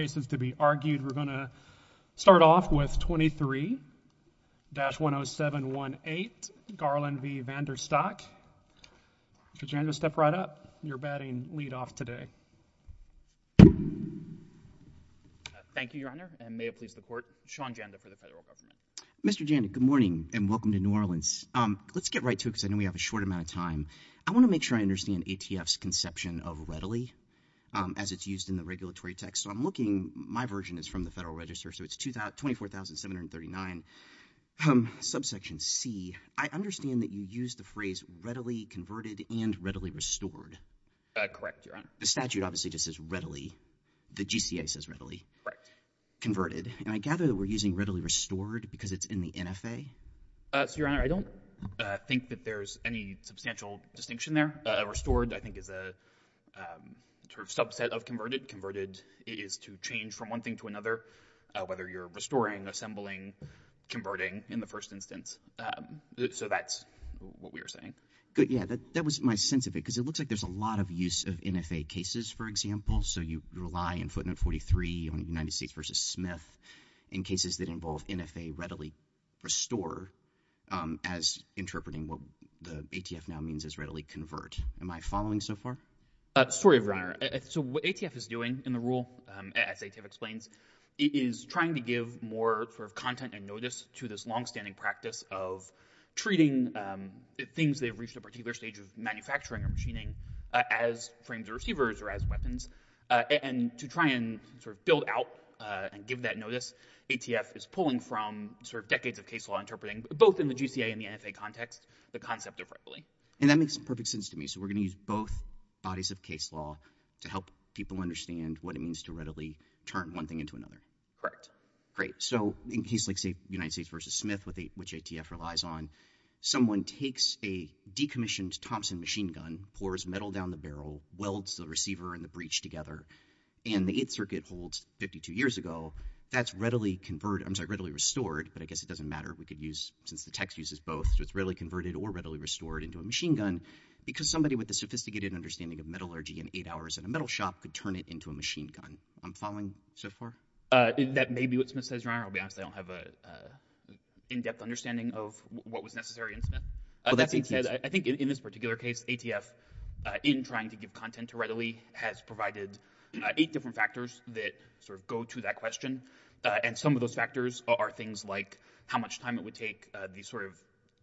cases to be argued. We're going to start off with 23-10718 Garland v. VanderStok. Mr. Janda, step right up. You're batting lead off today. Thank you, Your Honor, and may it please the court, Sean Janda for the federal government. Mr. Janda, good morning and welcome to New Orleans. Let's get right to it because I know we have a short amount of time. I want to make sure I understand ATF's conception of readily as it's used in the regulatory text. So I'm looking, my version is from the Federal Register, so it's 24,739, subsection C. I understand that you use the phrase readily converted and readily restored. Correct, Your Honor. The statute obviously just says readily. The GCA says readily. Correct. Converted. And I gather that we're using readily restored because it's in the NFA? So, Your Honor, I don't think that there's any substantial distinction there. Restored, I think, is a sort of subset of converted. Converted is to change from one thing to another, whether you're restoring, assembling, converting in the first instance. So that's what we were saying. Good. Yeah, that was my sense of it because it looks like there's a lot of use of NFA cases, for example. So you rely in footnote 43 on United States v. Smith in cases that involve NFA readily restore as interpreting what the ATF now means as readily convert. Am I following so far? Sorry, Your Honor. So what ATF is doing in the rule, as ATF explains, is trying to give more sort of content and notice to this longstanding practice of treating things they've reached a particular stage of manufacturing or machining as frames or receivers or as weapons. And to try and sort of build out and give that notice, ATF is pulling from sort of decades of case law interpreting, both in the GCA and the NFA context, the concept of readily. And that makes perfect sense to me. So we're going to use both bodies of case law to help people understand what it means to readily turn one thing into another. Correct. Great. So in cases like United States v. Smith, which ATF relies on, someone takes a decommissioned Thompson machine gun, pours metal down the barrel, welds the receiver and the breech together, and the 8th Circuit holds 52 years ago, that's readily restored, but I guess it doesn't matter. We could use, since the text uses both, so it's readily converted or the sophisticated understanding of metallurgy in eight hours in a metal shop could turn it into a machine gun. I'm following so far? That may be what Smith says, Your Honor. I'll be honest, I don't have an in-depth understanding of what was necessary in Smith. I think in this particular case, ATF, in trying to give content to readily, has provided eight different factors that sort of go to that question. And some of those factors are things like how much time it would take, the sort of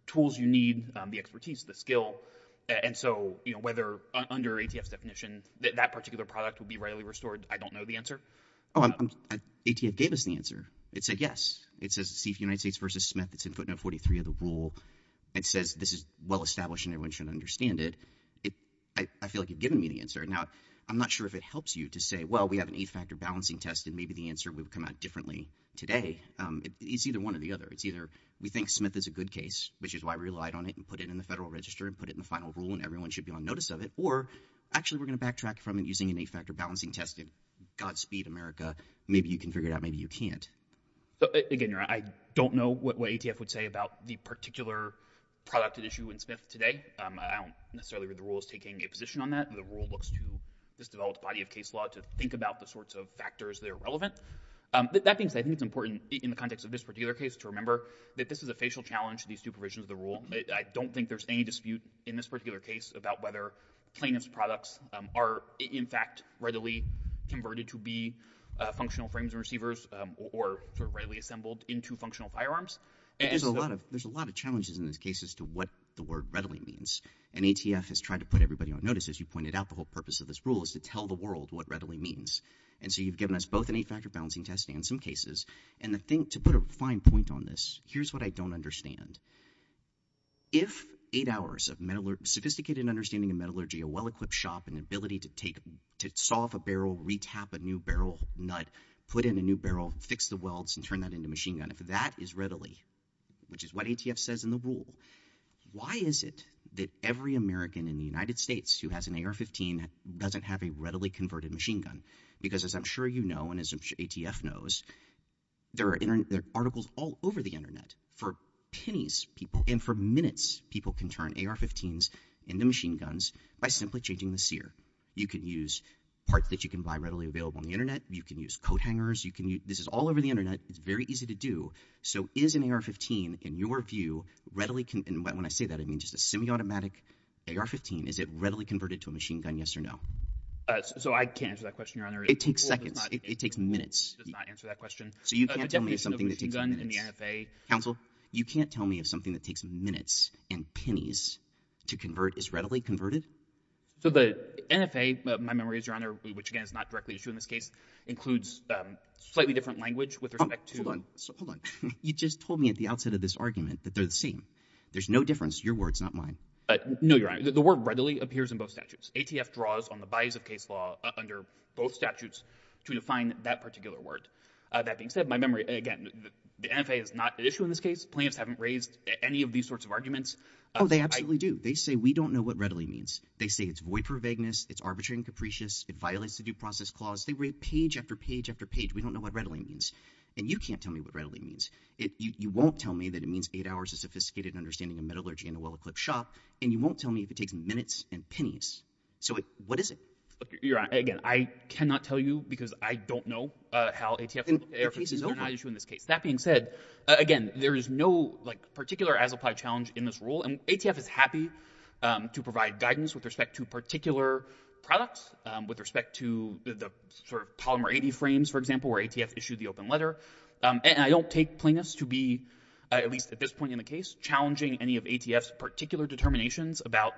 tools you need, the expertise, the skill. And so whether under ATF's definition, that particular product would be readily restored, I don't know the answer. ATF gave us the answer. It said yes. It says see if United States v. Smith, it's in footnote 43 of the rule. It says this is well established and everyone should understand it. I feel like you've given me the answer. Now, I'm not sure if it helps you to say, well, we have an eight-factor balancing test and maybe the answer would come out differently today. It's either one or the other. It's either we think Smith is a good case, which is why we relied on it and put it in the federal register and put it in the final rule and everyone should be on notice of it, or actually we're going to backtrack from it using an eight-factor balancing test and Godspeed, America, maybe you can figure it out, maybe you can't. Again, Your Honor, I don't know what ATF would say about the particular product at issue in Smith today. I don't necessarily read the rules taking a position on that. The rule looks to this developed body of case law to think about the sorts of factors that are relevant. That being said, I think it's important in the context of this particular case to remember that this is a facial challenge to these two provisions of the rule. I don't think there's any dispute in this particular case about whether plaintiff's products are, in fact, readily converted to be functional frames and receivers or readily assembled into functional firearms. There's a lot of challenges in this case as to what the word readily means, and ATF has tried to put everybody on notice. As you pointed out, the whole purpose of this rule is to tell the world what readily means, and so you've given us both an eight-factor balancing test and some cases, and to put a fine point on this, here's what I don't understand. If eight hours of sophisticated understanding of metallurgy, a well-equipped shop, and the ability to saw off a barrel, re-tap a new barrel nut, put in a new barrel, fix the welds, and turn that into a machine gun, if that is readily, which is what ATF says in the rule, why is it that every American in the United States who has an AR-15 doesn't have a readily converted machine gun? Because as I'm sure you know, and as ATF knows, there are articles all over the internet. For pennies, people, and for minutes, people can turn AR-15s into machine guns by simply changing the sear. You can use parts that you can buy readily available on the internet. You can use coat hangers. This is all over the internet. It's very easy to do. So is an AR-15, in your view, readily, and when I say that, I mean just a semi-automatic AR-15, is it readily converted to a machine gun, yes or no? So I can't answer that question, Your Honor. It takes seconds. It takes minutes. It does not answer that question. So you can't tell me something that takes minutes. Counsel, you can't tell me if something that takes minutes and pennies to convert is readily converted? So the NFA, my memories, Your Honor, which again is not directly issued in this case, includes slightly different language with respect to... Hold on. You just told me at the outset of this argument that they're the same. There's no difference. Your word's not mine. No, Your Honor. The word readily appears in both statutes. ATF draws on the bias of case law under both statutes to define that particular word. That being said, my memory, again, the NFA is not an issue in this case. Plaintiffs haven't raised any of these sorts of arguments. Oh, they absolutely do. They say we don't know what readily means. They say it's void for vagueness. It's arbitrary and capricious. It violates the due process clause. They read page after page after page. We don't know what readily means. And you can't tell me what readily means. You won't tell me that it means eight hours of minutes and pennies. So what is it? Your Honor, again, I cannot tell you because I don't know how ATF is not an issue in this case. That being said, again, there is no particular as-applied challenge in this rule. And ATF is happy to provide guidance with respect to particular products, with respect to the sort of Polymer 80 frames, for example, where ATF issued the open letter. And I don't take plaintiffs to be, at least at this point in the case, challenging any ATF's particular determinations about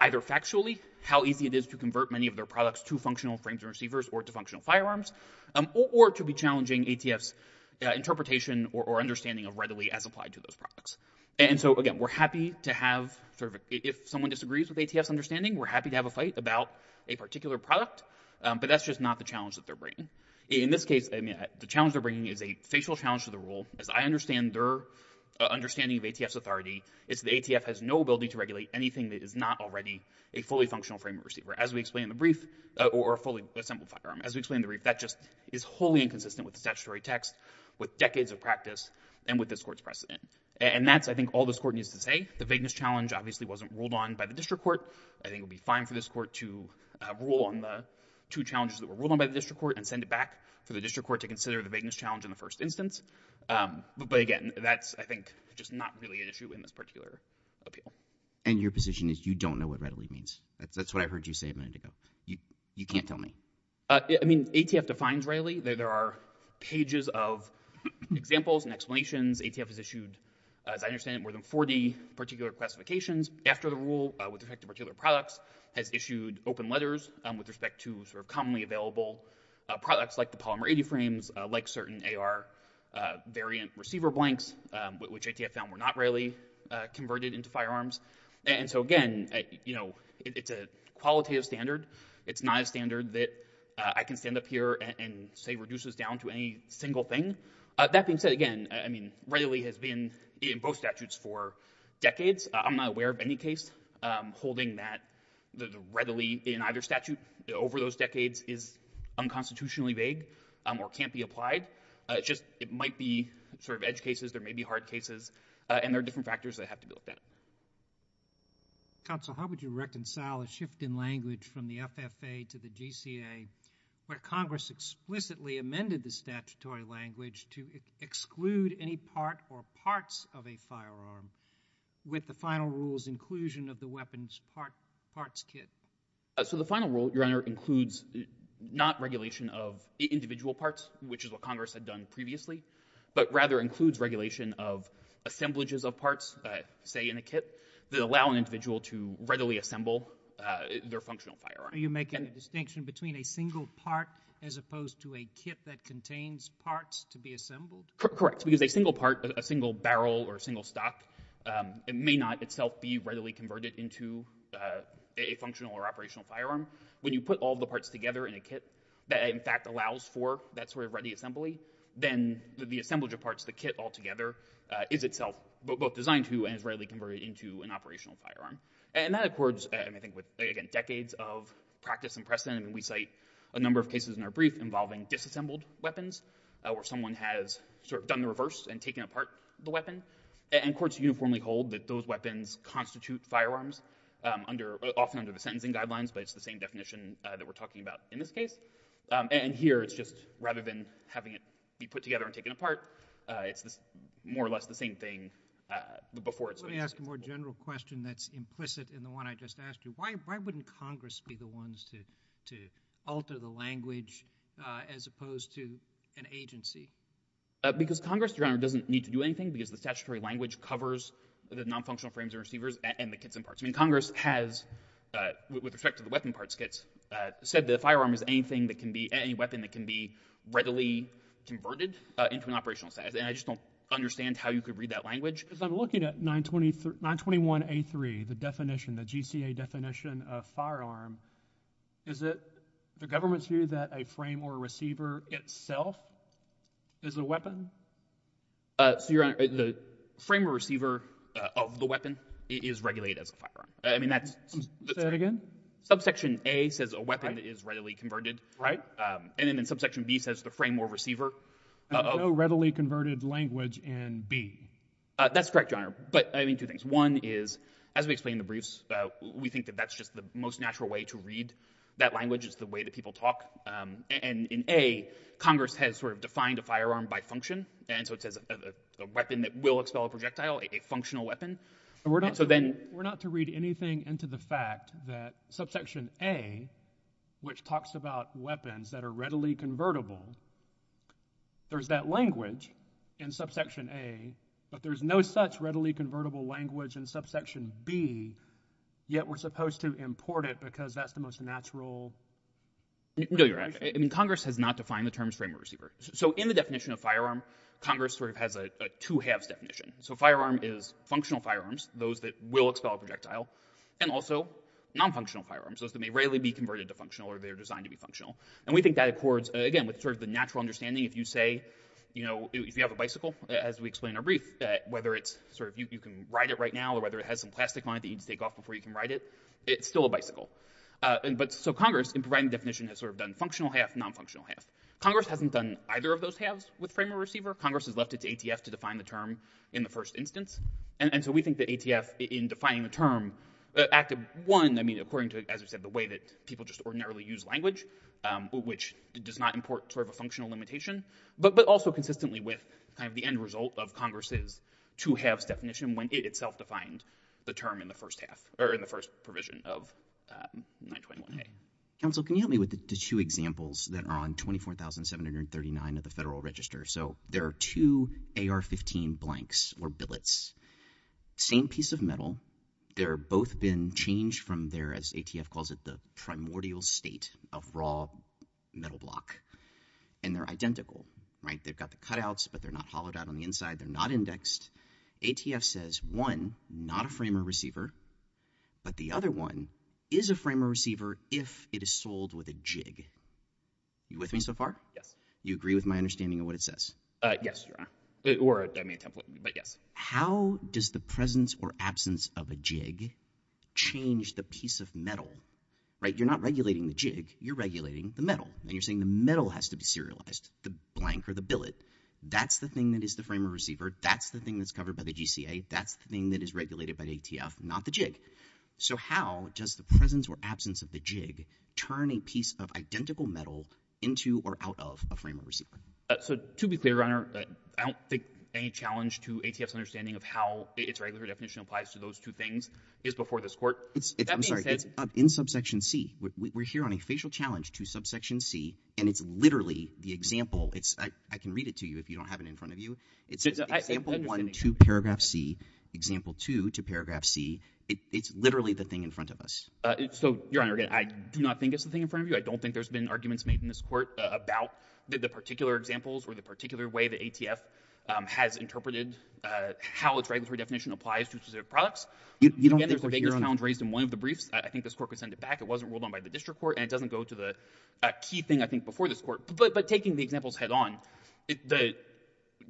either factually, how easy it is to convert many of their products to functional frames and receivers or to functional firearms, or to be challenging ATF's interpretation or understanding of readily as applied to those products. And so, again, we're happy to have, if someone disagrees with ATF's understanding, we're happy to have a fight about a particular product. But that's just not the challenge that they're bringing. In this case, the challenge they're bringing is a facial challenge to the rule. As I understand their ATF has no ability to regulate anything that is not already a fully functional frame of receiver, as we explained in the brief, or a fully assembled firearm. As we explained in the brief, that just is wholly inconsistent with the statutory text, with decades of practice, and with this court's precedent. And that's, I think, all this court needs to say. The vagueness challenge obviously wasn't ruled on by the district court. I think it would be fine for this court to rule on the two challenges that were ruled on by the district court and send it back for the district court to consider the vagueness challenge in the first instance. But again, that's, I think, just not really an issue in this particular appeal. And your position is you don't know what readily means. That's what I heard you say a minute ago. You can't tell me. I mean, ATF defines readily. There are pages of examples and explanations. ATF has issued, as I understand it, more than 40 particular classifications after the rule with respect to particular products, has issued open letters with respect to commonly available products like polymer 80 frames, like certain AR variant receiver blanks, which ATF found were not readily converted into firearms. And so again, it's a qualitative standard. It's not a standard that I can stand up here and say reduces down to any single thing. That being said, again, I mean, readily has been in both statutes for decades. I'm not aware of any case holding that readily in either statute over those decades is unconstitutionally vague or can't be applied. It's just, it might be sort of edge cases. There may be hard cases and there are different factors that have to go with that. Counsel, how would you reconcile a shift in language from the FFA to the GCA where Congress explicitly amended the statutory language to exclude any part or parts of a So the final rule, Your Honor, includes not regulation of individual parts, which is what Congress had done previously, but rather includes regulation of assemblages of parts, say in a kit, that allow an individual to readily assemble their functional firearm. Are you making a distinction between a single part as opposed to a kit that contains parts to be assembled? Correct. Because a single part, a single barrel or a single stock, it may not itself be readily converted into a functional or operational firearm. When you put all the parts together in a kit that in fact allows for that sort of ready assembly, then the assemblage of parts, the kit altogether, is itself both designed to and is readily converted into an operational firearm. And that accords, and I think with, again, decades of practice and precedent, and we cite a number of cases in our brief involving disassembled weapons where someone has sort of done the reverse and taken apart the weapon. And courts uniformly hold that those weapons constitute firearms under, often under the sentencing guidelines, but it's the same definition that we're talking about in this case. And here it's just rather than having it be put together and taken apart, it's more or less the same thing before it's Let me ask a more general question that's implicit in the one I just asked you. Why wouldn't Congress be the ones to to alter the language as opposed to an agency? Because Congress, Your Honor, doesn't need to do anything because the statutory language covers the non-functional frames and receivers and the kits and parts. I mean, Congress has, with respect to the weapon parts kits, said that a firearm is anything that can be, any weapon that can be readily converted into an operational size. And I just don't understand how you could read that language. Because I'm looking at 921A3, the definition, the GCA definition of firearm, is it the government's view that a frame or receiver itself is a weapon? So, Your Honor, the frame or receiver of the weapon is regulated as a firearm. I mean, that's... Say that again? Subsection A says a weapon is readily converted. Right. And then in subsection B says the frame or receiver. No readily converted language in B. That's correct, Your Honor. But I mean, two things. One is, as we explain in the briefs, we think that that's just the most natural way to read that language. It's the way that people talk. And in A, Congress has sort of defined a firearm by function. And so it says a weapon that will expel a projectile, a functional weapon. And so then... We're not to read anything into the fact that subsection A, which talks about weapons that are readily convertible, there's that language in subsection A, but there's no such readily convertible language in subsection B, yet we're supposed to import it because that's the most natural... No, Your Honor. I mean, Congress has not defined the terms frame or receiver. So in the definition of firearm, Congress sort of has a two halves definition. So firearm is functional firearms, those that will expel a projectile, and also non-functional firearms, those that may rarely be converted to functional or they're designed to be functional. And we think that accords, again, with sort of the natural understanding, if you have a bicycle, as we explained in our brief, whether you can ride it right now or whether it has some plastic on it that you need to take off before you can ride it, it's still a bicycle. So Congress, in providing the definition, has sort of done functional half, non-functional half. Congress hasn't done either of those halves with frame or receiver. Congress has left it to ATF to define the term in the first instance. And so we think that ATF, in defining the term, acted one, I mean, according to, as we said, the way that people just ordinarily use language, which does not import sort of a functional limitation, but also consistently with kind of the end result of Congress's two halves definition when it itself defined the term in the first half or in the first provision of 921a. Counsel, can you help me with the two examples that are on 24,739 of the Federal Register? So there are two AR-15 blanks or billets, same piece of metal. They're both been changed from as ATF calls it, the primordial state of raw metal block. And they're identical, right? They've got the cutouts, but they're not hollowed out on the inside. They're not indexed. ATF says one, not a frame or receiver, but the other one is a frame or receiver if it is sold with a jig. You with me so far? Yes. You agree with my understanding of what it says? Yes, or a template, but yes. How does the presence or absence of a jig change the piece of metal? Right? You're not regulating the jig. You're regulating the metal. And you're saying the metal has to be serialized, the blank or the billet. That's the thing that is the frame or receiver. That's the thing that's covered by the GCA. That's the thing that is regulated by ATF, not the jig. So how does the presence or absence of the jig turn a piece of identical of a frame or receiver? So to be clear, Your Honor, I don't think any challenge to ATF's understanding of how its regulatory definition applies to those two things is before this court. I'm sorry. It's in subsection C. We're here on a facial challenge to subsection C, and it's literally the example. I can read it to you if you don't have it in front of you. It's example 1 to paragraph C, example 2 to paragraph C. It's literally the thing in front of us. So, Your Honor, again, I do not think it's the thing in front of you. I don't think there's been arguments made in this court about the particular examples or the particular way that ATF has interpreted how its regulatory definition applies to specific products. Again, there's a big challenge raised in one of the briefs. I think this court could send it back. It wasn't ruled on by the district court, and it doesn't go to the key thing, I think, before this court. But taking the examples head-on, the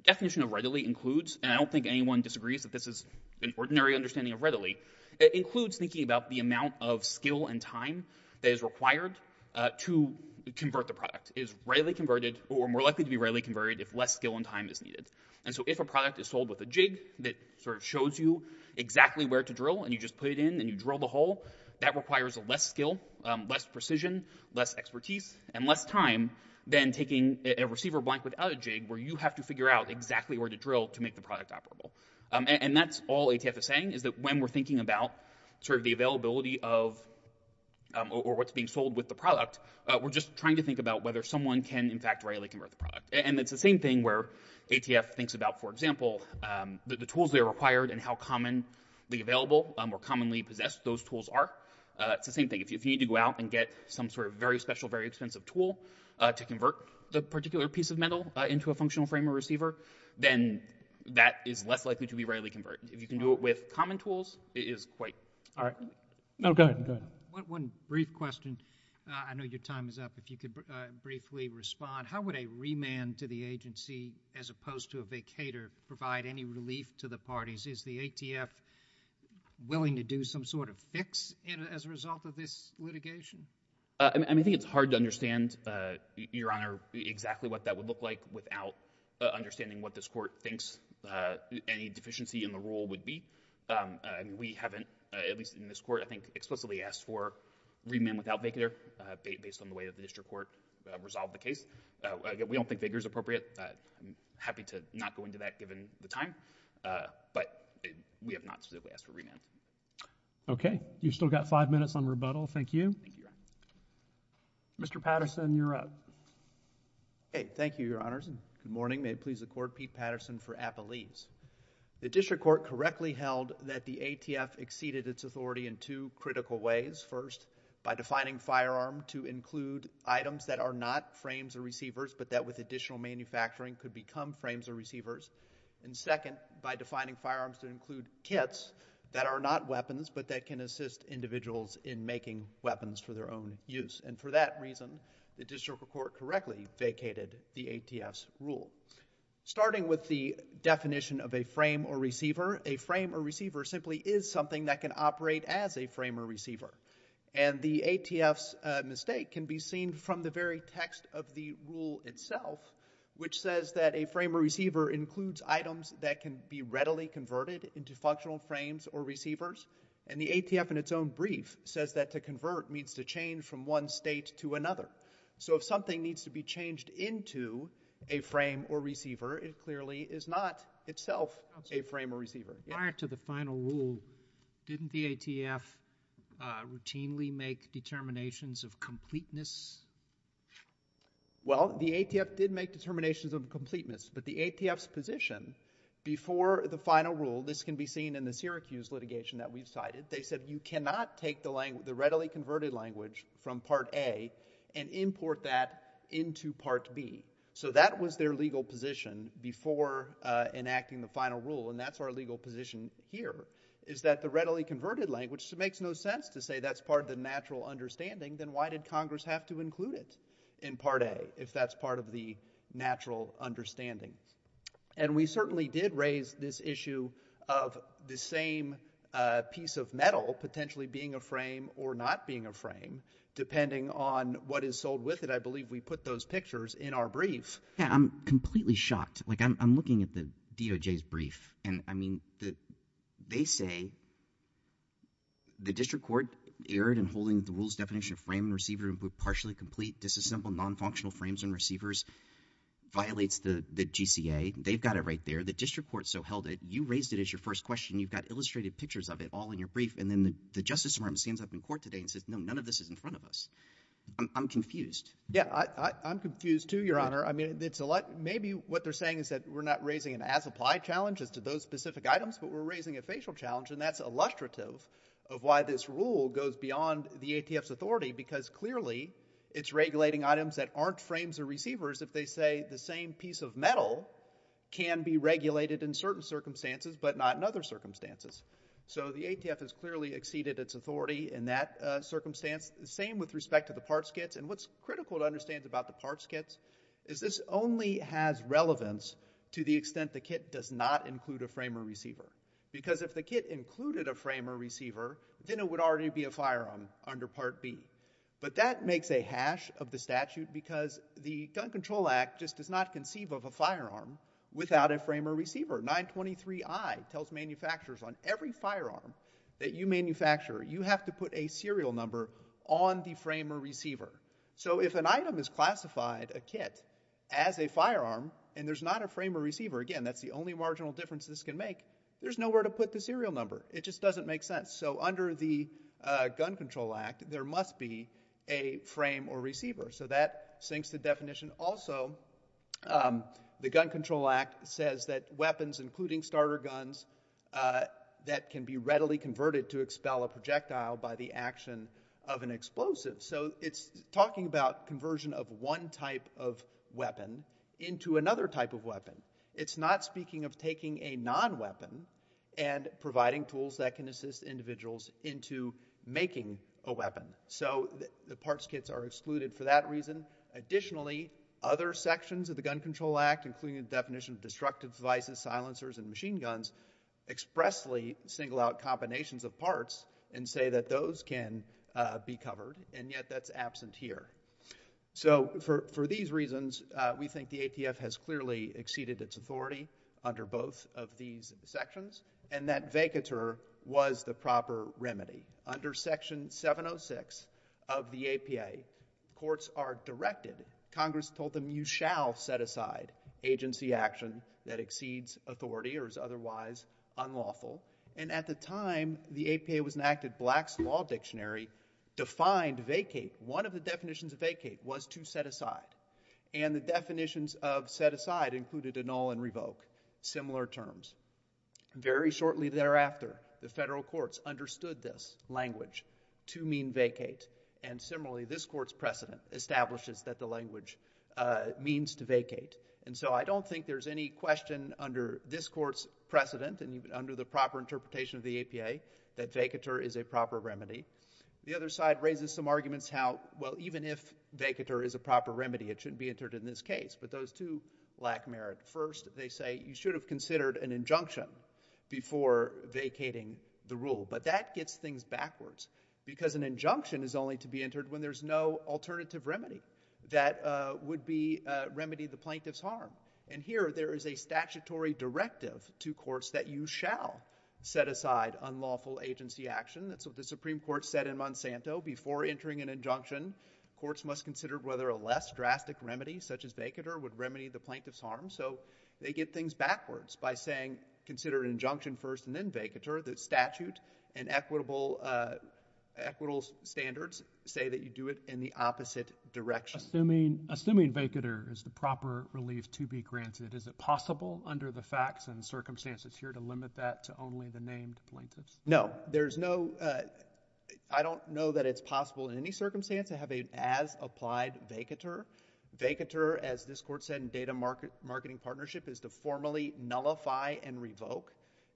definition of readily includes—and I don't think anyone disagrees that this is an ordinary understanding of readily—it is more likely to be readily converted if less skill and time is needed. And so if a product is sold with a jig that sort of shows you exactly where to drill, and you just put it in, and you drill the hole, that requires less skill, less precision, less expertise, and less time than taking a receiver blank without a jig where you have to figure out exactly where to drill to make the product operable. And that's all ATF is saying, is that when we're thinking about sort of the availability of or what's being sold with the product, we're just trying to think about whether someone can, in fact, readily convert the product. And it's the same thing where ATF thinks about, for example, the tools that are required and how commonly available or commonly possessed those tools are. It's the same thing. If you need to go out and get some sort of very special, very expensive tool to convert the particular piece of metal into a functional frame or receiver, then that is less likely to be readily converted. If you can do it with common tools, it is quite— All right. No, go ahead. Go ahead. One brief question. I know your time is up. If you could briefly respond. How would a remand to the agency, as opposed to a vacator, provide any relief to the parties? Is the ATF willing to do some sort of fix as a result of this litigation? I think it's hard to understand, Your Honor, exactly what that would look like without understanding what this Court thinks any deficiency in the rule would be. We haven't, at least in this Court, I think, explicitly asked for remand without vacator based on the way that the District Court resolved the case. We don't think vacator is appropriate. I'm happy to not go into that given the time, but we have not specifically asked for remand. Okay. You've still got five minutes on rebuttal. Thank you. Thank you, Your Honor. Mr. Patterson, you're up. Okay. Thank you, Your Honors. Good morning. May it please the Court, I'm Pete Patterson for Appalese. The District Court correctly held that the ATF exceeded its authority in two critical ways. First, by defining firearm to include items that are not frames or receivers, but that with additional manufacturing could become frames or receivers. And second, by defining firearms to include kits that are not weapons, but that can assist individuals in making weapons for their own use. And for that reason, the District Court correctly vacated the ATF's starting with the definition of a frame or receiver. A frame or receiver simply is something that can operate as a frame or receiver. And the ATF's mistake can be seen from the very text of the rule itself, which says that a frame or receiver includes items that can be readily converted into functional frames or receivers. And the ATF in its own brief says that to convert means to change from one state to another. So if something needs to be changed into a frame or receiver, it clearly is not itself a frame or receiver. Prior to the final rule, didn't the ATF routinely make determinations of completeness? Well, the ATF did make determinations of completeness, but the ATF's position before the final rule, this can be seen in the Syracuse litigation that we've cited, they said you cannot take the readily converted language from Part A and import that into Part B. So that was their legal position before enacting the final rule, and that's our legal position here, is that the readily converted language makes no sense to say that's part of the natural understanding, then why did Congress have to include it in Part A if that's part of the natural understanding? And we certainly did raise this issue of the same piece of metal potentially being a frame or not being a frame, depending on what is sold with it. I believe we put those pictures in our brief. Yeah, I'm completely shocked. Like, I'm looking at the DOJ's brief, and I mean, they say the district court erred in holding the rule's definition of frame and receiver with partially complete, disassembled, non-functional frames and receivers violates the GCA. They've got it right there. The district court so held it. You raised it as your first question. You've got illustrated pictures of it all in your brief, and then the Justice Department stands up in court today and says, no, none of this is in front of us. I'm confused. Yeah, I'm confused too, Your Honor. I mean, maybe what they're saying is that we're not raising an as-applied challenge as to those specific items, but we're raising a facial challenge, and that's illustrative of why this rule goes beyond the ATF's authority, because clearly it's regulating items that aren't frames or receivers if they say the same piece of metal can be regulated in certain circumstances, but not in other circumstances. So the ATF has clearly exceeded its authority in that circumstance. The same with respect to the parts kits, and what's critical to understand about the parts kits is this only has relevance to the extent the kit does not include a frame or receiver, because if the but that makes a hash of the statute, because the Gun Control Act just does not conceive of a firearm without a frame or receiver. 923I tells manufacturers on every firearm that you manufacture, you have to put a serial number on the frame or receiver. So if an item is classified, a kit, as a firearm, and there's not a frame or receiver, again, that's the only marginal difference this can make. There's nowhere to put the serial number. It just a frame or receiver. So that sinks the definition. Also, the Gun Control Act says that weapons, including starter guns, that can be readily converted to expel a projectile by the action of an explosive. So it's talking about conversion of one type of weapon into another type of weapon. It's not speaking of taking a non-weapon and providing tools that can assist individuals into making a weapon. So the parts kits are excluded for that reason. Additionally, other sections of the Gun Control Act, including the definition of destructive devices, silencers, and machine guns, expressly single out combinations of parts and say that those can be covered. And yet that's absent here. So for these reasons, we think the ATF has clearly exceeded its authority under both of these sections, and that vacatur was the proper remedy. Under Section 706 of the APA, courts are directed, Congress told them, you shall set aside agency action that exceeds authority or is otherwise unlawful. And at the time, the APA was an act that Black's Law Dictionary defined vacate. One of the definitions of vacate was to set aside. And the definitions of set aside included annul and revoke, similar terms. Very shortly thereafter, the federal courts understood this language to mean vacate. And similarly, this court's precedent establishes that the language means to vacate. And so I don't think there's any question under this court's precedent and even under the proper interpretation of the APA that vacatur is a proper remedy. The other side raises some arguments how, well, even if vacatur is a proper remedy, it shouldn't be entered in this case. But those two lack merit. First, they say, you should have considered an injunction before vacating the rule. But that gets things backwards because an injunction is only to be entered when there's no alternative remedy that would remedy the plaintiff's harm. And here, there is a statutory directive to courts that you shall set aside unlawful agency action. That's what the Supreme Court said in Monsanto. Before entering an injunction, courts must consider whether a less drastic remedy, such as vacatur, would remedy the plaintiff's harm. So they get things backwards by saying, consider an injunction first and then vacatur. The statute and equitable standards say that you do it in the opposite direction. Assuming vacatur is the proper relief to be granted, is it possible under the facts and circumstances here to limit that to only the named plaintiffs? No. I don't know that it's possible in any circumstance to have an as-applied vacatur. Vacatur, as this court said in data marketing partnership, is to formally nullify and revoke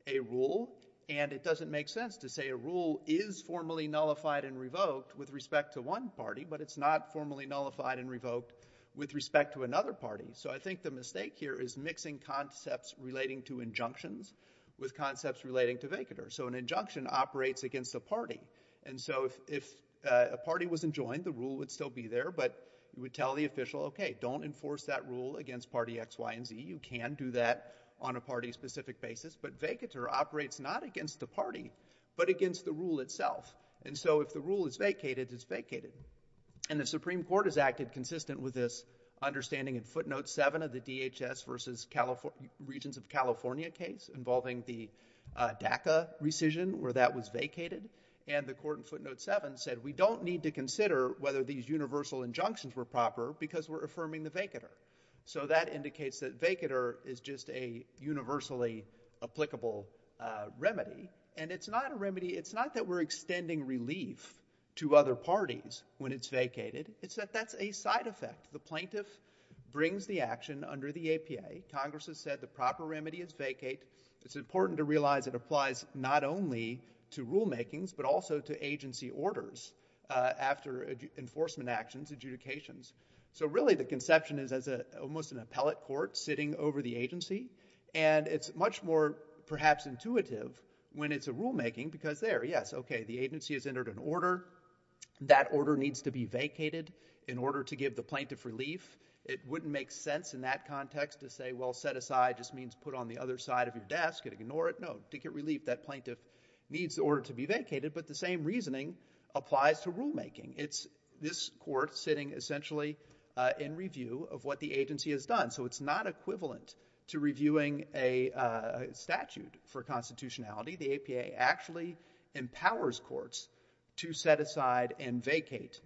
a rule. And it doesn't make sense to say a rule is formally nullified and revoked with respect to one party, but it's not formally nullified and revoked with respect to another party. So I think the mistake here is mixing concepts relating to injunctions with concepts relating to vacatur. So an injunction operates against a party. And so if a party wasn't joined, the rule would still be there. But you would tell the official, OK, don't enforce that rule against party X, Y, and Z. You can do that on a party-specific basis. But vacatur operates not against the party, but against the rule itself. And so if the rule is vacated, it's vacated. And the Supreme Court has acted consistent with this understanding in footnote 7 of the DHS versus regions of California case involving the DACA rescission where that was vacated. And the court in footnote 7 said, we don't need to consider whether these universal injunctions were proper because we're affirming the vacatur. So that indicates that vacatur is just a universally applicable remedy. And it's not a remedy. It's not that we're extending relief to other parties when it's vacated. It's that that's a side effect. The plaintiff brings the action under the APA. Congress has said the proper remedy is vacate. It's important to realize it applies not only to rulemakings, but also to agency orders after enforcement actions, adjudications. So really, the conception is as almost an appellate court sitting over the agency. And it's much more perhaps intuitive when it's a rulemaking because there, yes, OK, agency has entered an order. That order needs to be vacated in order to give the plaintiff relief. It wouldn't make sense in that context to say, well, set aside just means put on the other side of your desk and ignore it. No, to get relief, that plaintiff needs the order to be vacated. But the same reasoning applies to rulemaking. It's this court sitting essentially in review of what the agency has done. So it's not equivalent to reviewing a statute for constitutionality. The APA actually empowers courts to set aside and vacate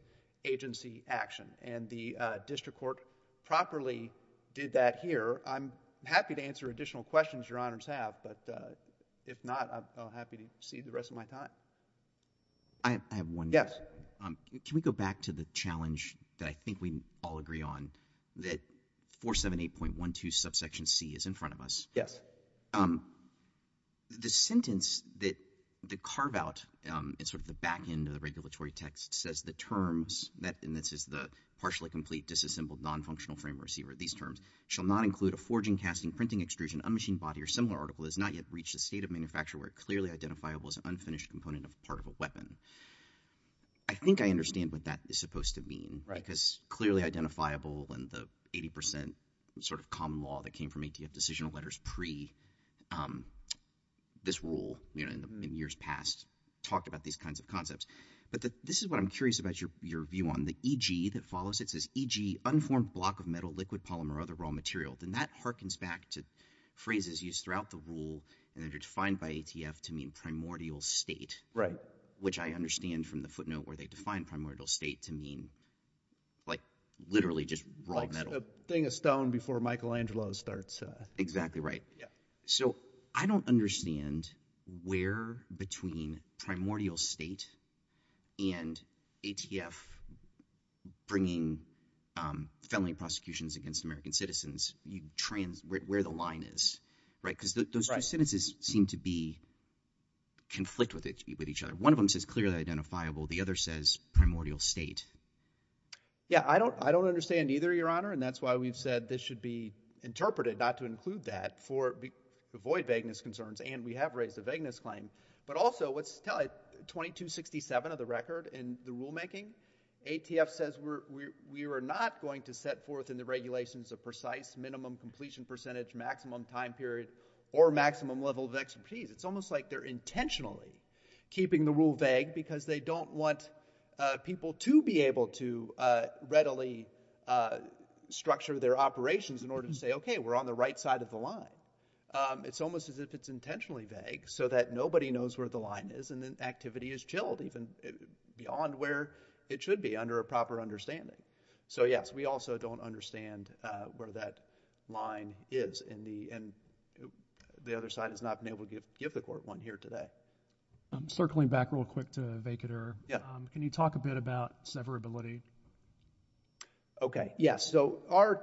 agency action. And the district court properly did that here. I'm happy to answer additional questions your honors have, but if not, I'm happy to cede the rest of my time. I have one. Yes. Can we go back to the challenge that I think we all agree on that 478.12 subsection c is in front of us. Yes. The sentence that the carve out is sort of the back end of the regulatory text says the terms that, and this is the partially complete, disassembled, non-functional frame receiver. These terms shall not include a forging, casting, printing, extrusion, unmachined body, or similar article has not yet reached a state of manufacture where it clearly identifiable as an unfinished component of part of a weapon. I think I understand what that is supposed to mean because clearly identifiable and the 80% sort of common law that came from ATF decisional letters pre this rule in years past talked about these kinds of concepts. But this is what I'm curious about your view on the EG that follows. It says EG, unformed block of metal, liquid polymer, or other raw material. Then that harkens back to phrases used throughout the rule and they're defined by ATF to mean primordial state, which I understand from the footnote where they define primordial state to mean like literally just raw metal. Like a thing of stone before Michelangelo starts. Exactly right. So I don't understand where between primordial state and ATF bringing felony prosecutions against American citizens, where the line is, right? Because those two sentences seem to be conflict with each other. One of them says clearly identifiable, the other says primordial state. Yeah. I don't, I don't understand either, your honor. And that's why we've said this should be interpreted not to include that for avoid vagueness concerns. And we have raised a vagueness claim, but also let's tell it 2267 of the record and the rulemaking ATF says we're, we're, we are not going to set forth in the regulations of precise minimum completion percentage, maximum time period, or maximum level of expertise. It's almost like they're intentionally keeping the rule vague because they don't want people to be able to readily structure their operations in order to say, okay, we're on the right side of the line. It's almost as if it's intentionally vague so that nobody knows where the line is and then activity is chilled even beyond where it should be under a proper understanding. So yes, we also don't understand where that line is in the, and the other side has not been able to give the court one here today. I'm circling back real quick to vacater. Can you talk a bit about severability? Okay. Yeah. So our,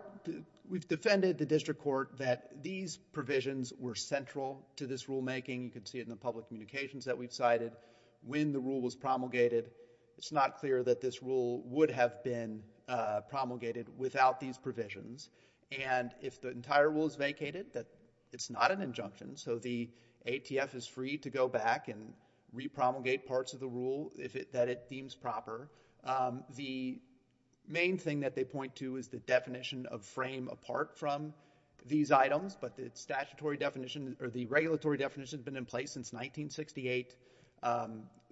we've defended the district court that these provisions were central to this rulemaking. You can see it in the public communications that we've cited. When the rule was promulgated, it's not clear that this rule would have been promulgated without these provisions. And if the entire rule is vacated, that it's not an injunction. So the ATF is free to go back and re-promulgate parts of the rule that it deems proper. The main thing that they point to is the definition of frame apart from these items, but the statutory definition or the regulatory definition has been in place since 1968.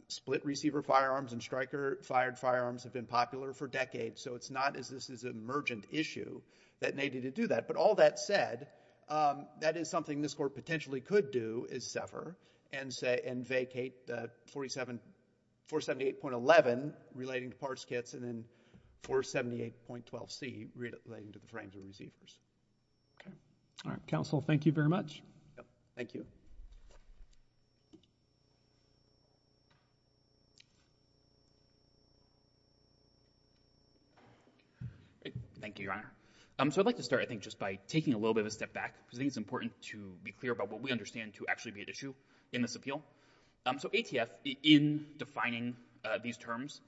Split receiver firearms and striker fired firearms have been popular for decades. So it's not as this is an emergent issue that needed to do that. But all that said, that is something this court potentially could do is and say, and vacate the 478.11 relating to parts kits and then 478.12C relating to the frames of receivers. Okay. All right. Counsel, thank you very much. Yep. Thank you. Thank you, Your Honor. Um, so I'd like to start, I think just by taking a little bit of a step back because I think it's important to be clear about what we understand to actually be an issue. In this appeal. Um, so ATF in defining, uh, these terms,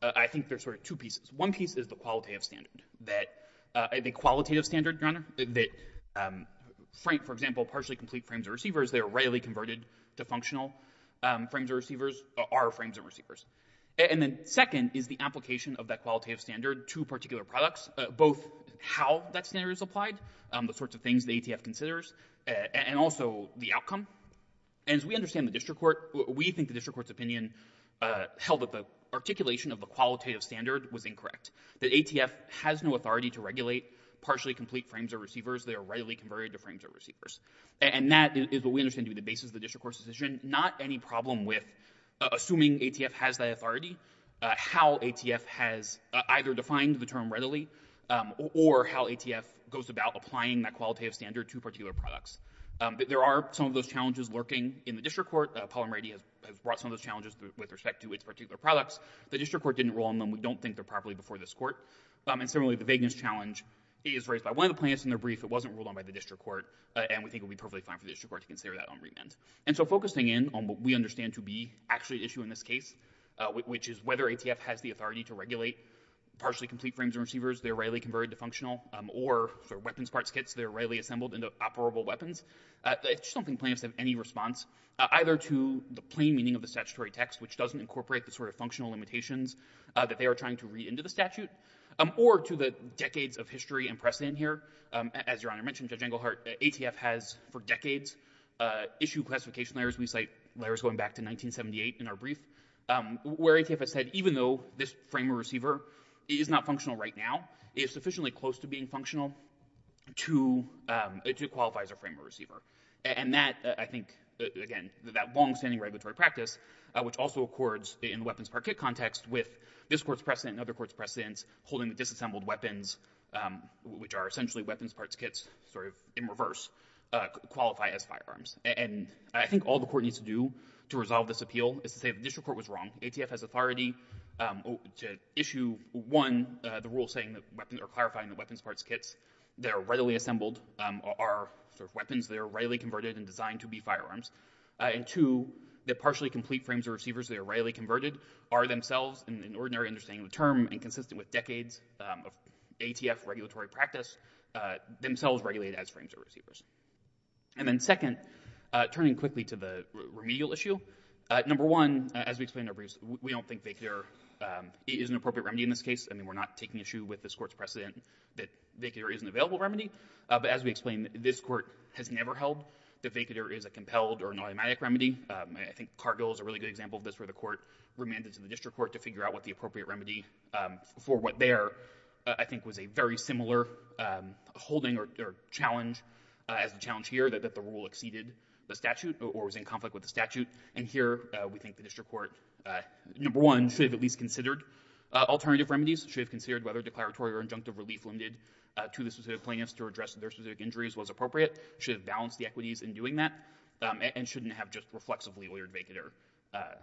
uh, I think there's sort of two pieces. One piece is the qualitative standard that, uh, the qualitative standard, Your Honor, that, um, Frank, for example, partially complete frames of receivers, they are readily converted to functional, um, frames of receivers, are frames of receivers. And then second is the application of that qualitative standard to particular products, both how that standard is applied, um, the sorts of ATF considers, uh, and also the outcome. And as we understand the district court, we think the district court's opinion, uh, held that the articulation of the qualitative standard was incorrect, that ATF has no authority to regulate partially complete frames of receivers. They are readily converted to frames of receivers. And that is what we understand to be the basis of the district court's decision. Not any problem with assuming ATF has that authority, uh, how ATF has either defined the term readily, um, or how ATF goes about applying that qualitative standard to particular products. Um, but there are some of those challenges lurking in the district court. Uh, Paul and Brady have, have brought some of those challenges with respect to its particular products. The district court didn't rule on them. We don't think they're properly before this court. Um, and similarly, the vagueness challenge is raised by one of the plaintiffs in their brief. It wasn't ruled on by the district court, uh, and we think it would be perfectly fine for the district court to consider that on remand. And so focusing in on what we understand to be actually issue in this case, uh, which is whether ATF has the authority to regulate partially complete frames of receivers, they're readily converted to functional, um, or for weapons parts kits, they're readily assembled into operable weapons. Uh, I just don't think plaintiffs have any response, uh, either to the plain meaning of the statutory text, which doesn't incorporate the sort of functional limitations, uh, that they are trying to read into the statute, um, or to the decades of history and precedent here. Um, as Your Honor mentioned, Judge Englehart, ATF has for decades, uh, issued classification layers. We cite layers going back to 1978 in our brief, um, where ATF has said even though this frame of receiver is not functional right now, it is sufficiently close to being functional to, um, to qualify as a frame of receiver. And that, uh, I think, uh, again, that longstanding regulatory practice, uh, which also accords in the weapons part kit context with this court's precedent and other court's precedents holding the disassembled weapons, um, which are essentially weapons parts kits sort of in reverse, uh, qualify as firearms. And I think all the court needs to do to resolve this appeal is to say the district court was wrong. ATF has authority, um, to issue one, uh, the rule saying that weapons or clarifying the weapons parts kits that are readily assembled, um, are sort of weapons that are readily converted and designed to be firearms. Uh, and two, the partially complete frames or receivers that are readily converted are themselves in an ordinary understanding of the term and consistent with decades, um, of ATF regulatory practice, uh, themselves regulated as frames or receivers. And then second, uh, turning quickly to the remedial issue, uh, number one, as we explained in our briefs, we don't think they care, um, is an appropriate remedy in this case. I mean, we're not taking issue with this court's precedent that they care is an available remedy. Uh, but as we explained, this court has never held the vacater is a compelled or an automatic remedy. Um, I think cargo is a really good example of this where the court remanded to the district court to figure out what the appropriate remedy, um, for what they are, uh, I think was a very similar, um, holding or, or challenge, uh, as the challenge here that the rule exceeded the statute or was in conflict with the statute. And here, uh, we think the district court, uh, number one should have at least considered, uh, alternative remedies, should have considered whether declaratory or injunctive relief limited, uh, to the specific plaintiffs to address their specific injuries was appropriate, should have balanced the equities in doing that, um, and shouldn't have just reflexively ordered vacater, uh,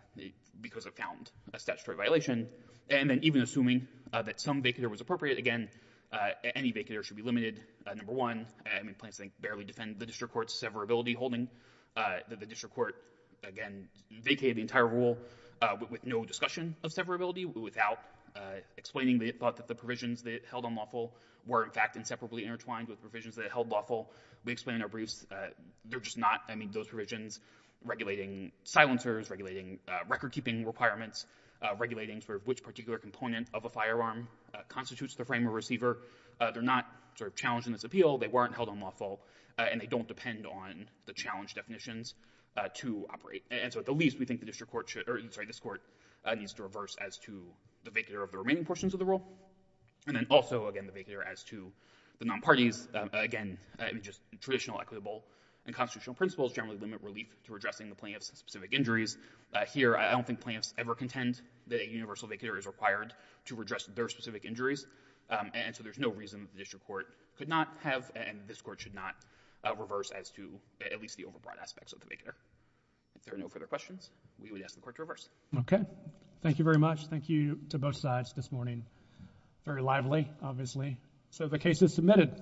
because of found a statutory violation. And then even assuming that some vacater was appropriate, again, uh, any vacater should be limited. Uh, number one, I mean, plants think barely defend the district court's severability holding, uh, that the district court, again, vacated the entire rule, uh, with no discussion of severability without, uh, explaining the thought that the provisions that held unlawful were in fact inseparably intertwined with provisions that held lawful. We explained our briefs, uh, they're just not, I mean, those provisions regulating silencers, regulating, uh, record keeping requirements, uh, regulating sort of which particular component of a firearm, uh, constitutes the frame of receiver, uh, they're not sort of challenged in this appeal, they weren't held unlawful, uh, and they don't depend on the challenge definitions, uh, to operate. And so at the least, we think the district court should, or sorry, this court, uh, needs to reverse as to the vacater of the remaining portions of the rule. And then also, again, the vacater as to the non-parties, um, again, uh, I mean, just traditional equitable and constitutional principles generally limit relief to addressing plaintiff's specific injuries. Uh, here, I don't think plaintiffs ever contend that a universal vacater is required to address their specific injuries, um, and so there's no reason that the district court could not have, and this court should not, uh, reverse as to at least the overbroad aspects of the vacater. If there are no further questions, we would ask the court to reverse. Okay. Thank you very much. Thank you to both sides this morning. Very lively, obviously. So the case is submitted.